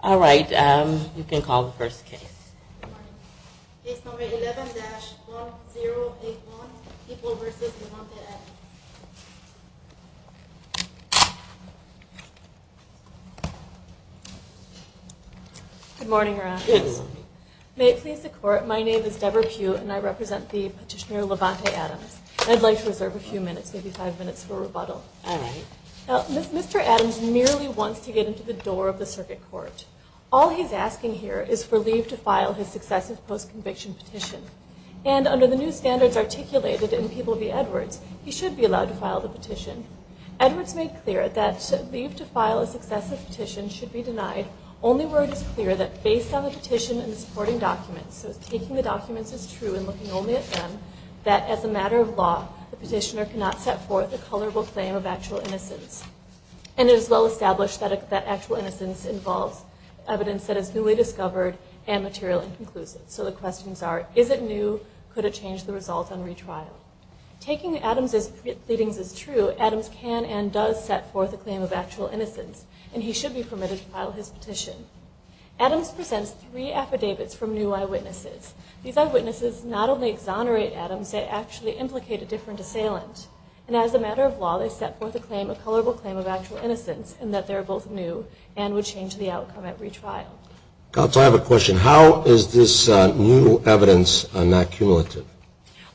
All right, you can call the first case. Case number 11-1081, People v. Levante Adams. Good morning, Your Honor. Good morning. May it please the Court, my name is Deborah Pugh, and I represent the petitioner Levante Adams. I'd like to reserve a few minutes, maybe five minutes, for rebuttal. All right. Mr. Adams merely wants to get into the door of the circuit court. All he's asking here is for leave to file his successive post-conviction petition. And under the new standards articulated in People v. Edwards, he should be allowed to file the petition. Edwards made clear that leave to file a successive petition should be denied, only where it is clear that based on the petition and the supporting documents, so taking the documents is true and looking only at them, that as a matter of law, the petitioner cannot set forth a colorable claim of actual innocence. And it is well established that actual innocence involves evidence that is newly discovered and material and conclusive. So the questions are, is it new? Could it change the results on retrial? Taking Adams' pleadings as true, Adams can and does set forth a claim of actual innocence, and he should be permitted to file his petition. Adams presents three affidavits from new eyewitnesses. These eyewitnesses not only exonerate Adams, they actually implicate a different assailant. And as a matter of law, they set forth a claim, a colorable claim of actual innocence, in that they're both new and would change the outcome at retrial. So I have a question. How is this new evidence not cumulative?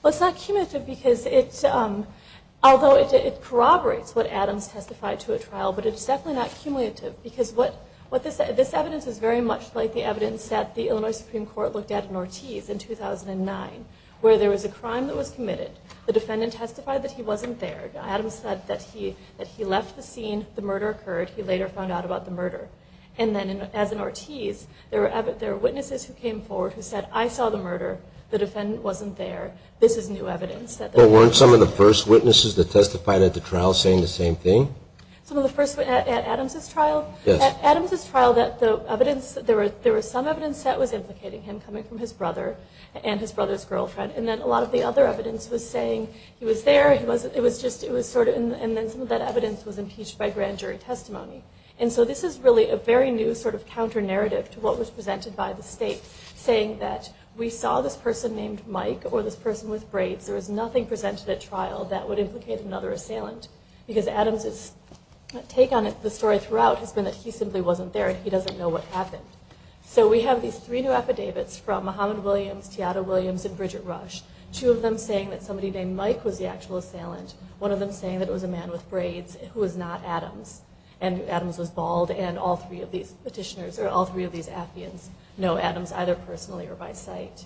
Well, it's not cumulative because it's, although it corroborates what Adams testified to at trial, but it's definitely not cumulative because what, this evidence is very much like the evidence that the Illinois Supreme Court looked at in Ortiz in 2009, where there was a crime that was committed. The defendant testified that he wasn't there. Adams said that he left the scene, the murder occurred, he later found out about the murder. And then as in Ortiz, there were witnesses who came forward who said, I saw the murder, the defendant wasn't there, this is new evidence. But weren't some of the first witnesses that testified at the trial saying the same thing? Some of the first at Adams' trial? Yes. At Adams' trial, there was some evidence that was implicating him coming from his brother and his brother's girlfriend, and then a lot of the other evidence was saying he was there, and then some of that evidence was impeached by grand jury testimony. And so this is really a very new sort of counter-narrative to what was presented by the state, saying that we saw this person named Mike or this person with braids. There was nothing presented at trial that would implicate another assailant because Adams' take on the story throughout has been that he simply wasn't there and he doesn't know what happened. So we have these three new affidavits from Muhammad Williams, Teada Williams, and Bridget Rush, two of them saying that somebody named Mike was the actual assailant, one of them saying that it was a man with braids who was not Adams, and Adams was bald, and all three of these petitioners, or all three of these affiants, know Adams either personally or by sight.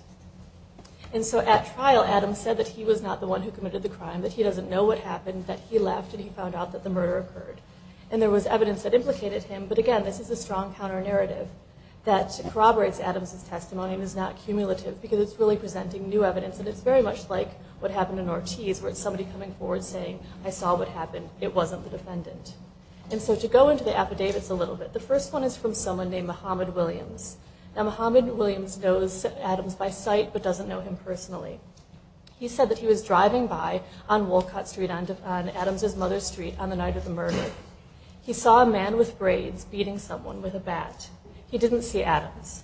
And so at trial, Adams said that he was not the one who committed the crime, that he doesn't know what happened, that he left and he found out that the murder occurred. And there was evidence that implicated him, but again, this is a strong counter-narrative that corroborates Adams' testimony and is not cumulative because it's really presenting new evidence and it's very much like what happened in Ortiz where it's somebody coming forward saying, I saw what happened, it wasn't the defendant. And so to go into the affidavits a little bit, the first one is from someone named Muhammad Williams. Now Muhammad Williams knows Adams by sight but doesn't know him personally. He said that he was driving by on Wolcott Street on Adams' mother's street on the night of the murder. He saw a man with braids beating someone with a bat. He didn't see Adams.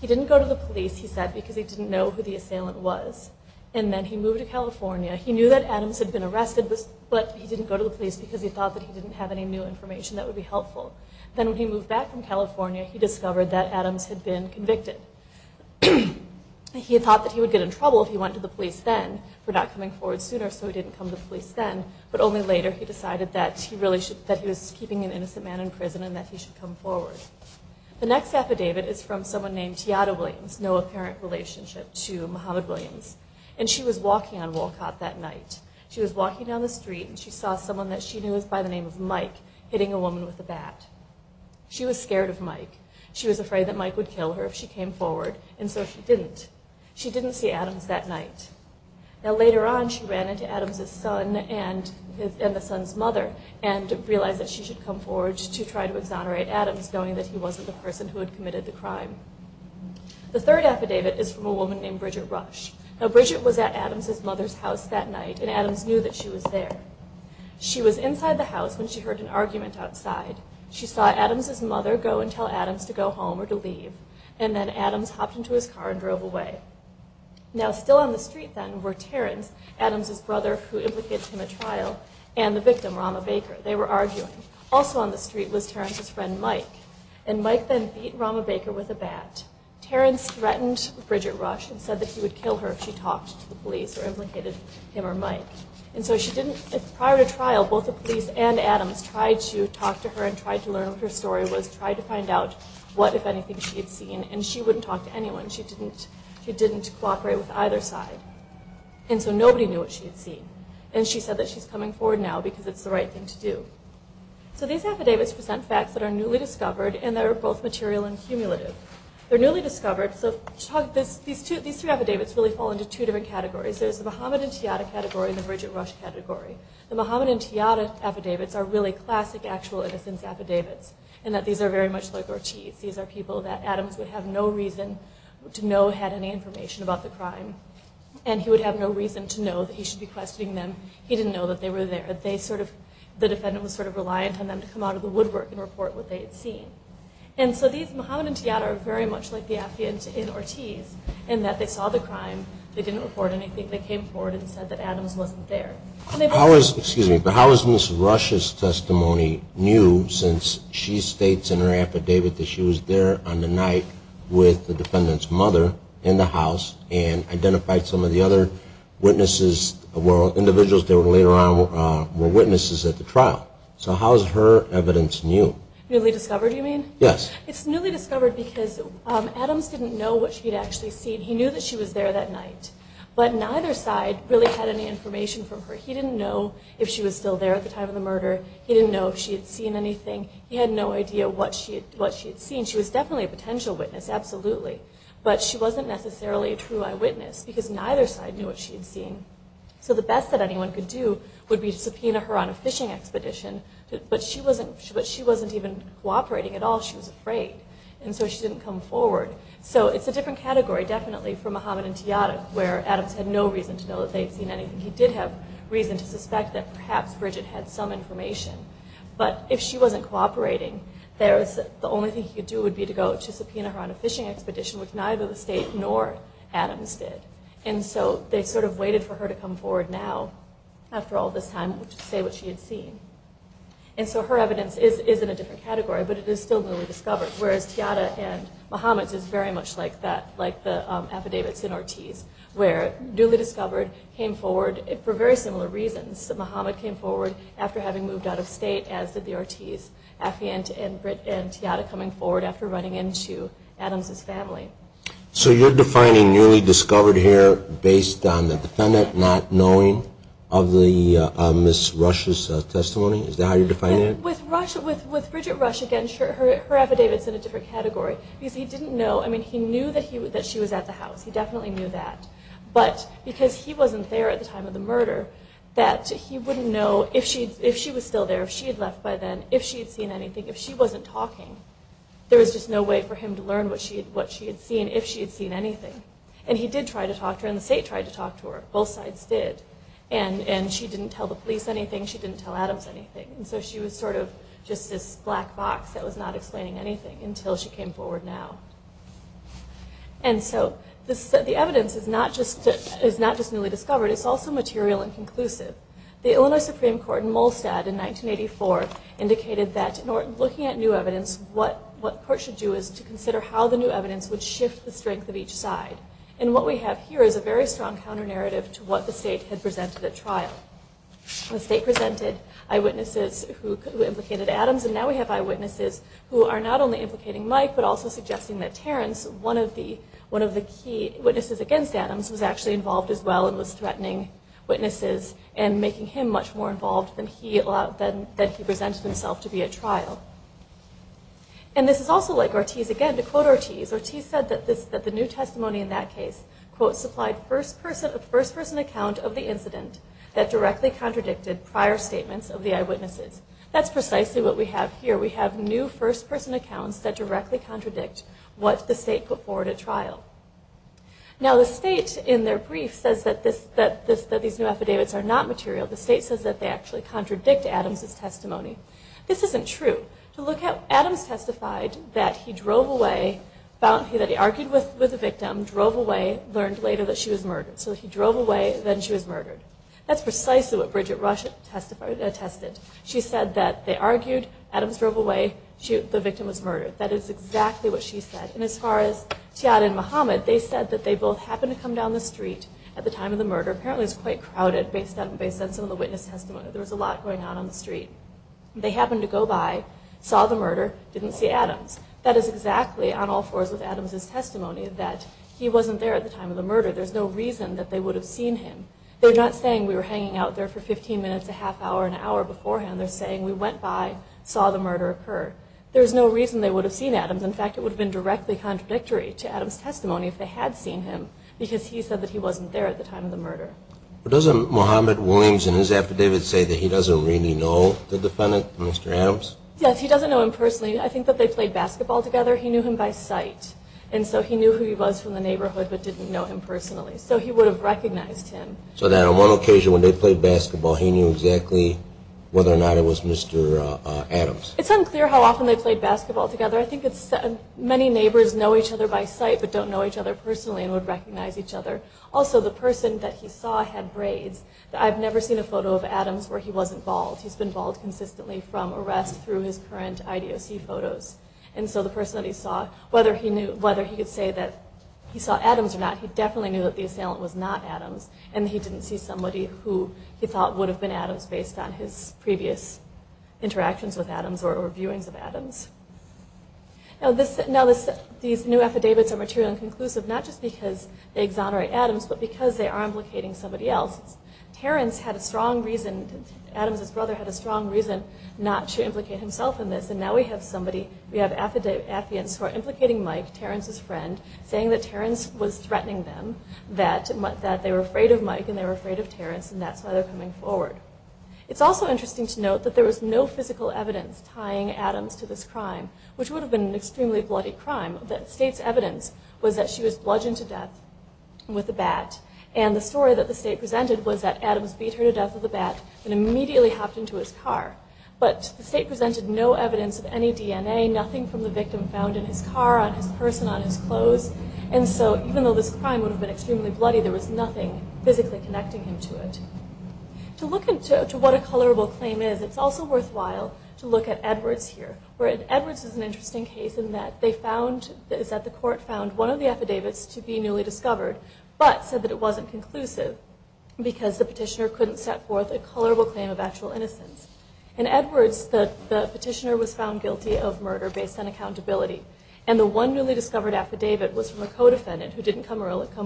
He didn't go to the police, he said, because he didn't know who the assailant was. And then he moved to California. He knew that Adams had been arrested, but he didn't go to the police because he thought that he didn't have any new information that would be helpful. Then when he moved back from California, he discovered that Adams had been convicted. He had thought that he would get in trouble if he went to the police then for not coming forward sooner, so he didn't come to the police then, but only later he decided that he was keeping an innocent man in prison and that he should come forward. The next affidavit is from someone named Tiada Williams, no apparent relationship to Muhammad Williams. And she was walking on Wolcott that night. She was walking down the street and she saw someone that she knew by the name of Mike hitting a woman with a bat. She was scared of Mike. She was afraid that Mike would kill her if she came forward, and so she didn't. She didn't see Adams that night. Now later on, she ran into Adams' son and the son's mother and realized that she should come forward to try to exonerate Adams, knowing that he wasn't the person who had committed the crime. The third affidavit is from a woman named Bridget Rush. Now Bridget was at Adams' mother's house that night, and Adams knew that she was there. She was inside the house when she heard an argument outside. She saw Adams' mother go and tell Adams to go home or to leave, and then Adams hopped into his car and drove away. Now still on the street then were Terrence, Adams' brother who implicated him at trial, and the victim, Rama Baker. They were arguing. Also on the street was Terrence's friend Mike, and Mike then beat Rama Baker with a bat. Terrence threatened Bridget Rush and said that he would kill her if she talked to the police or implicated him or Mike. And so prior to trial, both the police and Adams tried to talk to her and tried to learn what her story was, tried to find out what, if anything, she had seen, and she wouldn't talk to anyone. She didn't cooperate with either side. And so nobody knew what she had seen. And she said that she's coming forward now because it's the right thing to do. So these affidavits present facts that are newly discovered and that are both material and cumulative. They're newly discovered, so these three affidavits really fall into two different categories. There's the Mohammed and Tiata category and the Bridget Rush category. The Mohammed and Tiata affidavits are really classic actual innocence affidavits in that these are very much like Ortiz. These are people that Adams would have no reason to know had any information about the crime, and he would have no reason to know that he should be questioning them. He didn't know that they were there. The defendant was sort of reliant on them to come out of the woodwork and report what they had seen. And so these Mohammed and Tiata are very much like the affidavits in Ortiz in that they saw the crime. They didn't report anything. They came forward and said that Adams wasn't there. Excuse me, but how is Ms. Rush's testimony new since she states in her affidavit that she was there on the night with the defendant's mother in the house and identified some of the other witnesses, individuals that were later on, were witnesses at the trial? So how is her evidence new? Newly discovered, you mean? Yes. It's newly discovered because Adams didn't know what she had actually seen. He knew that she was there that night, but neither side really had any information from her. He didn't know if she was still there at the time of the murder. He didn't know if she had seen anything. He had no idea what she had seen. She was definitely a potential witness, absolutely, but she wasn't necessarily a true eyewitness because neither side knew what she had seen. So the best that anyone could do would be to subpoena her on a fishing expedition, but she wasn't even cooperating at all. She was afraid, and so she didn't come forward. So it's a different category, definitely, for Muhammad and Tiyadak, where Adams had no reason to know that they had seen anything. He did have reason to suspect that perhaps Bridget had some information, but if she wasn't cooperating, the only thing he could do would be to go to subpoena her on a fishing expedition, which neither the state nor Adams did. And so they sort of waited for her to come forward now, after all this time, to say what she had seen. And so her evidence is in a different category, but it is still newly discovered, whereas Tiyadak and Muhammad's is very much like that, like the affidavits in Ortiz, where newly discovered came forward for very similar reasons. Muhammad came forward after having moved out of state, as did the Ortiz. Affiant and Tiyadak coming forward after running into Adams' family. So you're defining newly discovered here based on the defendant not knowing of Ms. Rush's testimony? Is that how you're defining it? With Bridget Rush, again, her affidavit's in a different category, because he didn't know. I mean, he knew that she was at the house. He definitely knew that, but because he wasn't there at the time of the murder, that he wouldn't know if she was still there, if she had left by then, if she had seen anything, if she wasn't talking. There was just no way for him to learn what she had seen, if she had seen anything. And he did try to talk to her, and the state tried to talk to her. Both sides did. And she didn't tell the police anything. She didn't tell Adams anything. And so she was sort of just this black box that was not explaining anything until she came forward now. And so the evidence is not just newly discovered. It's also material and conclusive. The Illinois Supreme Court in Molstad in 1984 indicated that, looking at new evidence, what the court should do is to consider how the new evidence would shift the strength of each side. And what we have here is a very strong counter-narrative to what the state had presented at trial. The state presented eyewitnesses who implicated Adams, and now we have eyewitnesses who are not only implicating Mike, but also suggesting that Terrence, one of the key witnesses against Adams, was actually involved as well and was threatening witnesses and making him much more involved than he presented himself to be at trial. And this is also like Ortiz again. To quote Ortiz, Ortiz said that the new testimony in that case, quote, supplied a first-person account of the incident that directly contradicted prior statements of the eyewitnesses. That's precisely what we have here. We have new first-person accounts that directly contradict what the state put forward at trial. Now the state, in their brief, says that these new affidavits are not material. The state says that they actually contradict Adams' testimony. This isn't true. Adams testified that he drove away, argued with the victim, drove away, learned later that she was murdered. So he drove away, then she was murdered. That's precisely what Bridget Rusch attested. She said that they argued, Adams drove away, the victim was murdered. That is exactly what she said. And as far as Tiad and Muhammad, they said that they both happened to come down the street at the time of the murder. Apparently it was quite crowded based on some of the witness testimony. There was a lot going on on the street. They happened to go by, saw the murder, didn't see Adams. That is exactly on all fours with Adams' testimony, that he wasn't there at the time of the murder. There's no reason that they would have seen him. They're not saying we were hanging out there for 15 minutes, a half hour, an hour beforehand. There's no reason they would have seen Adams. In fact, it would have been directly contradictory to Adams' testimony if they had seen him, because he said that he wasn't there at the time of the murder. But doesn't Muhammad Williams in his affidavit say that he doesn't really know the defendant, Mr. Adams? Yes, he doesn't know him personally. I think that they played basketball together. He knew him by sight, and so he knew who he was from the neighborhood but didn't know him personally. So he would have recognized him. So then on one occasion when they played basketball, he knew exactly whether or not it was Mr. Adams. It's unclear how often they played basketball together. I think many neighbors know each other by sight but don't know each other personally and would recognize each other. Also, the person that he saw had braids. I've never seen a photo of Adams where he wasn't bald. He's been bald consistently from arrest through his current IDOC photos. And so the person that he saw, whether he could say that he saw Adams or not, he definitely knew that the assailant was not Adams, and he didn't see somebody who he thought would have been Adams based on his previous interactions with Adams or viewings of Adams. Now these new affidavits are material and conclusive not just because they exonerate Adams but because they are implicating somebody else. Adams' brother had a strong reason not to implicate himself in this, and now we have affidavits who are implicating Mike, Terrence's friend, saying that Terrence was threatening them, that they were afraid of Mike and they were afraid of Terrence, and that's why they're coming forward. It's also interesting to note that there was no physical evidence tying Adams to this crime, which would have been an extremely bloody crime. The state's evidence was that she was bludgeoned to death with a bat, and the story that the state presented was that Adams beat her to death with a bat and immediately hopped into his car. But the state presented no evidence of any DNA, nothing from the victim found in his car, on his person, on his clothes, and so even though this crime would have been extremely bloody, there was nothing physically connecting him to it. To look into what a colorable claim is, it's also worthwhile to look at Edwards here. Edwards is an interesting case in that the court found one of the affidavits to be newly discovered but said that it wasn't conclusive because the petitioner couldn't set forth a colorable claim of actual innocence. In Edwards, the petitioner was found guilty of murder based on accountability, and the one newly discovered affidavit was from a co-defendant who didn't come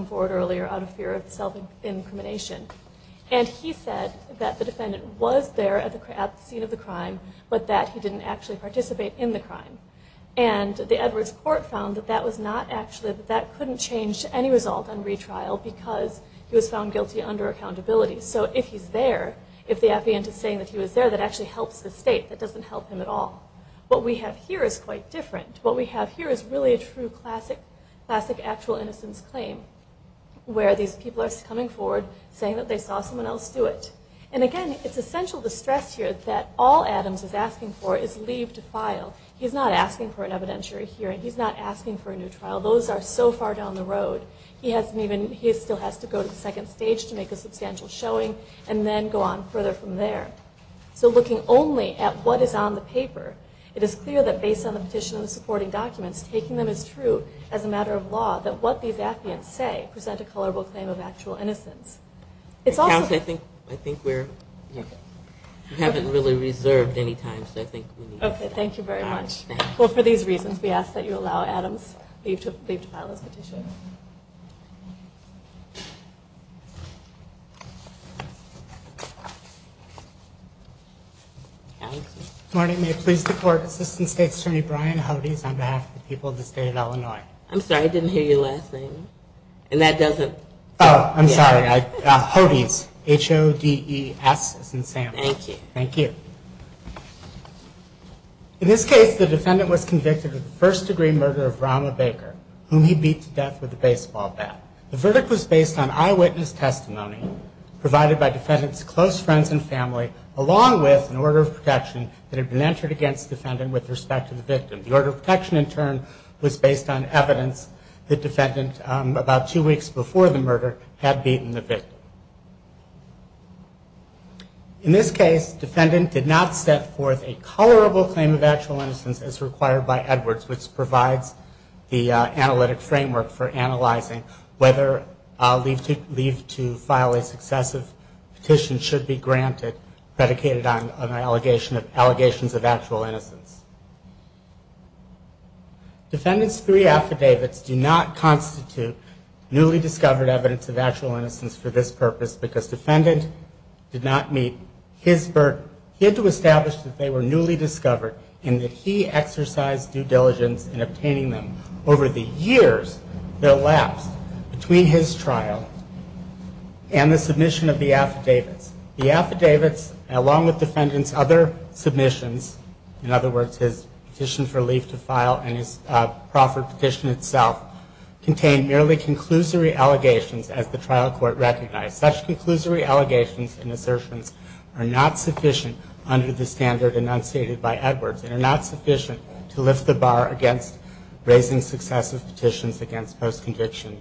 forward earlier out of fear of self-incrimination. And he said that the defendant was there at the scene of the crime, but that he didn't actually participate in the crime. And the Edwards court found that that couldn't change any result on retrial because he was found guilty under accountability. So if he's there, if the affidavit is saying that he was there, that actually helps the state. That doesn't help him at all. What we have here is quite different. What we have here is really a true classic actual innocence claim where these people are coming forward saying that they saw someone else do it. And again, it's essential to stress here that all Adams is asking for is leave to file. He's not asking for an evidentiary hearing. He's not asking for a new trial. Those are so far down the road. He still has to go to the second stage to make a substantial showing and then go on further from there. So looking only at what is on the paper, it is clear that based on the petition and the supporting documents, taking them as true as a matter of law, that what these affidavits say present a colorable claim of actual innocence. I think we haven't really reserved any time. Okay. Thank you very much. Well, for these reasons, we ask that you allow Adams leave to file his petition. Morning. May it please the Court. Assistant State's Attorney Brian Hodes on behalf of the people of the State of Illinois. I'm sorry. I didn't hear your last name. And that doesn't... Oh, I'm sorry. Hodes. H-O-D-E-S as in Sam. Thank you. Thank you. In this case, the defendant was convicted of the first degree murder of Rahma Baker, whom he beat to death with a knife. The verdict was based on eyewitness testimony provided by defendant's close friends and family, along with an order of protection that had been entered against the defendant with respect to the victim. The order of protection, in turn, was based on evidence that the defendant, about two weeks before the murder, had beaten the victim. In this case, the defendant did not set forth a colorable claim of actual innocence as required by Edwards, which provides the analytic framework for analyzing whether leave to file a successive petition should be granted, predicated on allegations of actual innocence. Defendant's three affidavits do not constitute newly discovered evidence of actual innocence for this purpose because defendant did not meet his burden. He had to establish that they were newly discovered and that he exercised due diligence in obtaining them over the years that elapsed between his trial and the submission of the affidavits. The affidavits, along with defendant's other submissions, in other words, his petition for leave to file and his proffered petition itself, contained merely conclusory allegations, as the trial court recognized. Such conclusory allegations and assertions are not sufficient under the standard enunciated by Edwards and are not sufficient to lift the bar against raising successive petitions against post-conviction,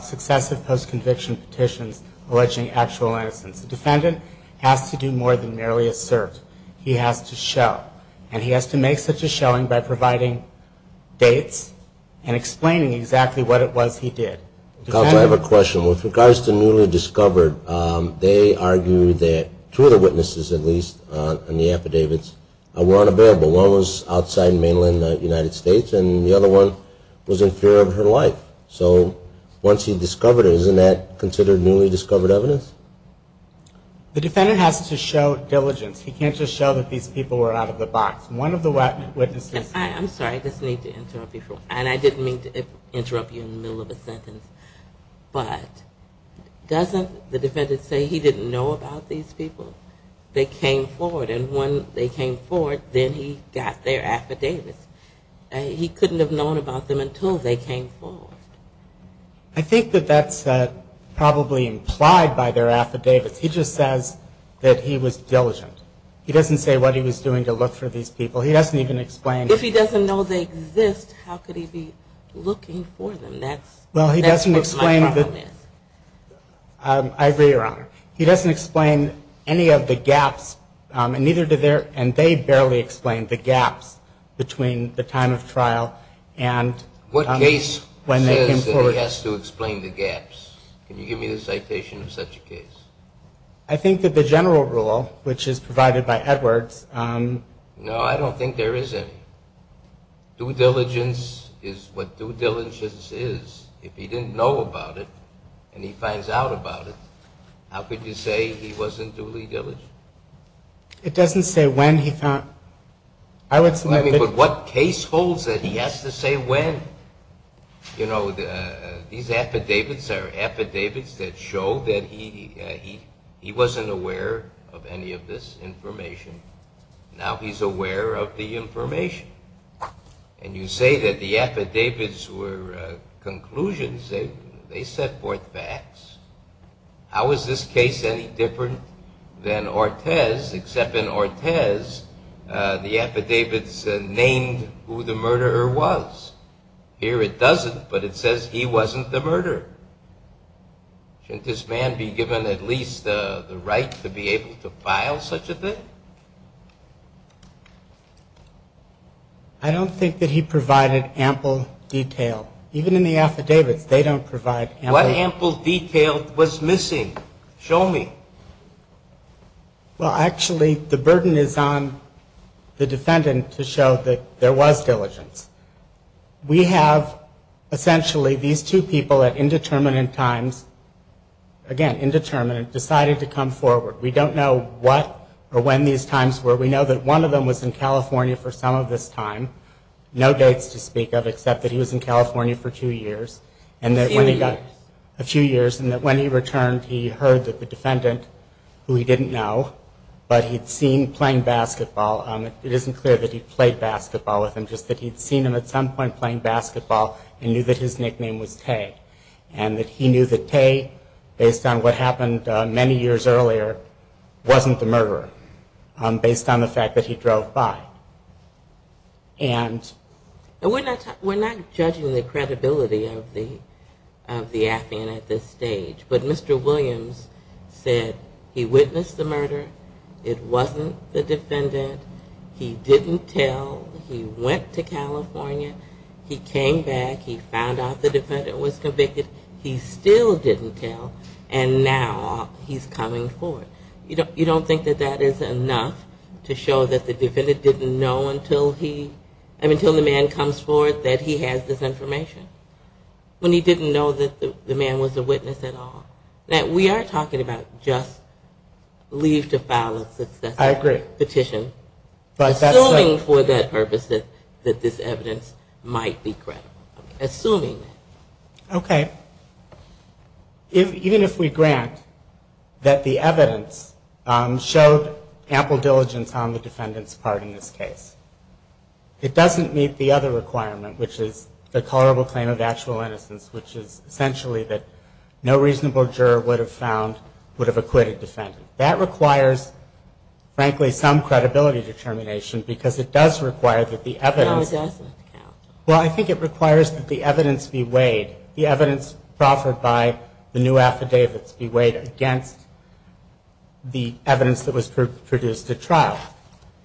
successive post-conviction petitions alleging actual innocence. The defendant has to do more than merely assert. He has to show. And he has to make such a showing by providing dates and explaining exactly what it was he did. Counsel, I have a question. With regards to newly discovered, they argue that two of the witnesses, at least, in the affidavits, were unavailable. One was outside in mainland United States and the other one was in fear of her life. So once he discovered her, isn't that considered newly discovered evidence? The defendant has to show diligence. He can't just show that these people were out of the box. One of the witnesses... I'm sorry. I just need to interrupt you for a moment. And I didn't mean to interrupt you in the middle of a sentence. But doesn't the defendant say he didn't know about these people? They came forward. And when they came forward, then he got their affidavits. He couldn't have known about them until they came forward. I think that that's probably implied by their affidavits. He just says that he was diligent. He doesn't say what he was doing to look for these people. He doesn't even explain... If he doesn't know they exist, how could he be looking for them? That's what my problem is. I agree, Your Honor. He doesn't explain any of the gaps, and they barely explain the gaps between the time of trial and... What case says that he has to explain the gaps? Can you give me the citation of such a case? I think that the general rule, which is provided by Edwards... No, I don't think there is any. Due diligence is what due diligence is. If he didn't know about it and he finds out about it, how could you say he wasn't duly diligent? It doesn't say when he found... But what case holds that he has to say when? You know, these affidavits are affidavits that show that he wasn't aware of any of this information. Now he's aware of the information. And you say that the affidavits were conclusions. They set forth facts. How is this case any different than Ortiz, except in Ortiz the affidavits named who the murderer was? Here it doesn't, but it says he wasn't the murderer. Shouldn't this man be given at least the right to be able to file such a thing? I don't think that he provided ample detail. Even in the affidavits, they don't provide ample... What ample detail was missing? Show me. Well, actually, the burden is on the defendant to show that there was diligence. We have essentially these two people at indeterminate times, again, indeterminate, decided to come forward. We don't know what or when these times were. We know that one of them was in California for some of this time, no dates to speak of except that he was in California for two years. A few years. A few years, and that when he returned, he heard that the defendant, who he didn't know, but he'd seen playing basketball. It isn't clear that he played basketball with him, just that he'd seen him at some point playing basketball and knew that his nickname was Tay, and that he knew that Tay, based on what happened many years earlier, wasn't the murderer based on the fact that he drove by. And we're not judging the credibility of the affidavit at this stage, but Mr. Williams said he witnessed the murder. It wasn't the defendant. He didn't tell. He went to California. He came back. He found out the defendant was convicted. He still didn't tell, and now he's coming forward. You don't think that that is enough to show that the defendant didn't know until the man comes forward that he has this information, when he didn't know that the man was a witness at all. We are talking about just leave to file a successful petition, assuming for that purpose that this evidence might be credible. Assuming that. Okay. Even if we grant that the evidence showed ample diligence on the defendant's part in this case, it doesn't meet the other requirement, which is the colorable claim of actual innocence, which is essentially that no reasonable juror would have found, would have acquitted the defendant. That requires, frankly, some credibility determination, because it does require that the evidence. No, it doesn't. Well, I think it requires that the evidence be weighed, the evidence proffered by the new affidavits be weighed against the evidence that was produced at trial.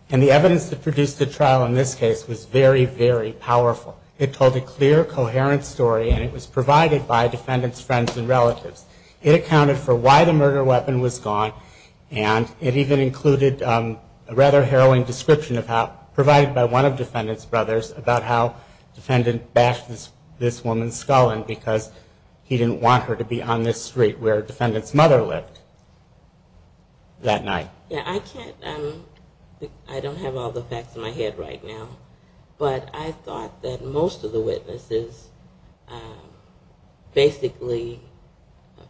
And the evidence that produced at trial in this case was very, very powerful. It told a clear, coherent story, and it was provided by defendant's friends and relatives. It accounted for why the murder weapon was gone, and it even included a rather harrowing description of how, provided by one of defendant's brothers, about how defendant bashed this woman's skull in because he didn't want her to be on this street where defendant's mother lived that night. Yeah, I can't, I don't have all the facts in my head right now, but I thought that most of the witnesses basically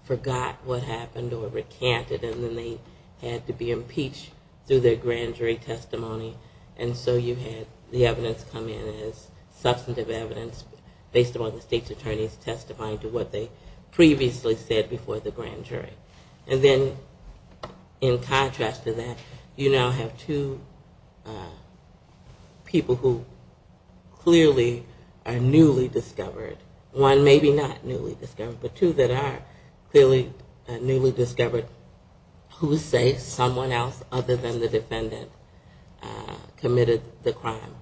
forgot what happened or recanted and then they had to be impeached through their grand jury testimony, and so you had the evidence come in as substantive evidence based upon the state's attorneys testifying to what they previously said before the grand jury. And then in contrast to that, you now have two people who clearly are newly discovered. One, maybe not newly discovered, but two that are clearly newly discovered who say someone else other than the defendant committed the crime.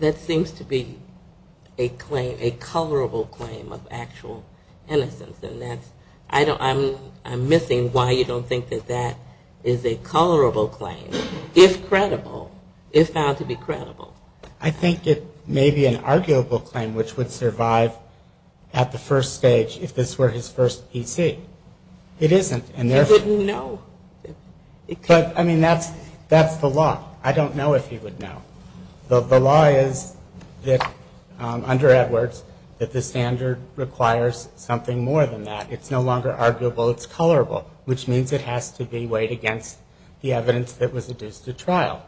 That seems to be a claim, a colorable claim of actual innocence, and I'm missing why you don't think that that is a colorable claim, if credible, if found to be credible. I think it may be an arguable claim which would survive at the first stage if this were his first PC. It isn't. You wouldn't know. I mean, that's the law. I don't know if you would know. The law is, under Edwards, that the standard requires something more than that. It's no longer arguable, it's colorable, which means it has to be weighed against the evidence that was adduced at trial.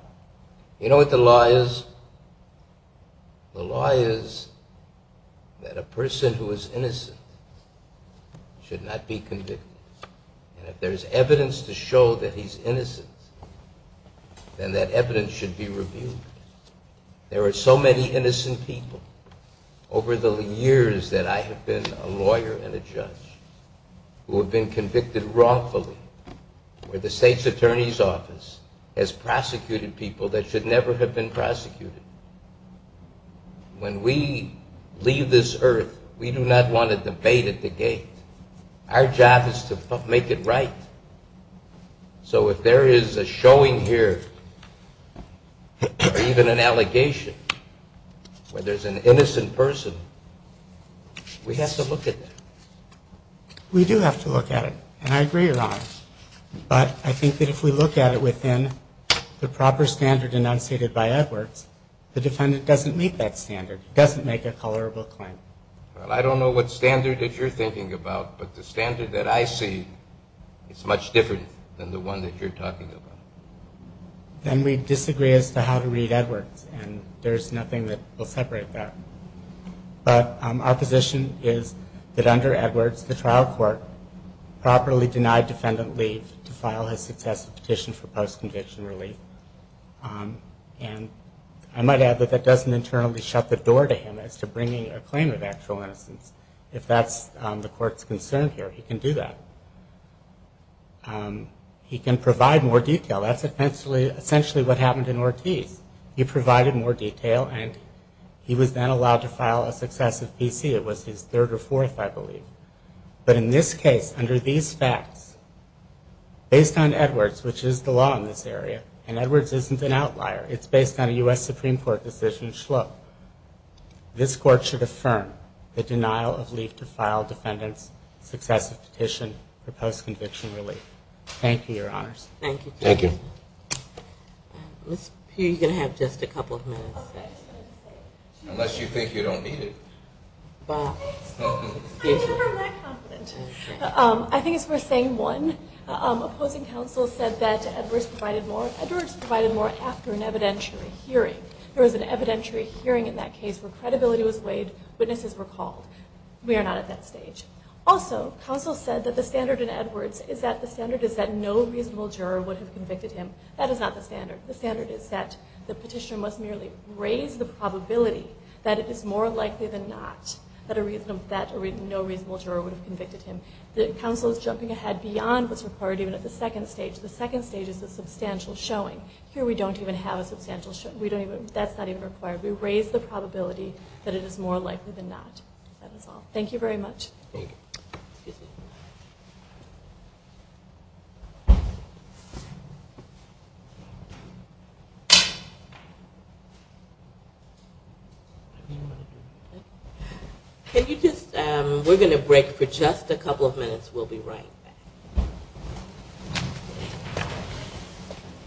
You know what the law is? The law is that a person who is innocent should not be convicted. And if there's evidence to show that he's innocent, then that evidence should be revealed. There are so many innocent people over the years that I have been a lawyer and a judge who have been convicted wrongfully, where the state's attorney's office has prosecuted people that should never have been prosecuted. When we leave this earth, we do not want a debate at the gate. Our job is to make it right. So if there is a showing here or even an allegation where there's an innocent person, we have to look at that. We do have to look at it, and I agree, Your Honor. But I think that if we look at it within the proper standard enunciated by Edwards, the defendant doesn't meet that standard, doesn't make a colorable claim. Well, I don't know what standard that you're thinking about, but the standard that I see is much different than the one that you're talking about. Then we disagree as to how to read Edwards, and there's nothing that will separate that. But our position is that under Edwards, the trial court properly denied defendant leave to file his successive petition for post-conviction relief. And I might add that that doesn't internally shut the door to him as to bringing a claim of actual innocence. If that's the court's concern here, he can do that. He can provide more detail. That's essentially what happened in Ortiz. He provided more detail, and he was then allowed to file a successive PC. It was his third or fourth, I believe. But in this case, under these facts, based on Edwards, which is the law in this area, and Edwards isn't an outlier. It's based on a U.S. Supreme Court decision in Schlup. This court should affirm the denial of leave to file defendant's successive petition for post-conviction relief. Thank you, Your Honors. Thank you. Thank you. Ms. P, you're going to have just a couple of minutes. Unless you think you don't need it. I never am that confident. I think it's worth saying, one, opposing counsel said that Edwards provided more after an evidentiary hearing. There was an evidentiary hearing in that case where credibility was weighed, witnesses were called. We are not at that stage. Also, counsel said that the standard in Edwards is that no reasonable juror would have convicted him. That is not the standard. The standard is that the petitioner must merely raise the probability that it is more likely than not that no reasonable juror would have convicted him. Counsel is jumping ahead beyond what's required even at the second stage. The second stage is a substantial showing. Here we don't even have a substantial showing. That's not even required. We raise the probability that it is more likely than not. That is all. Thank you very much. Thank you. Excuse me. Can you just, we're going to break for just a couple of minutes. We'll be right back.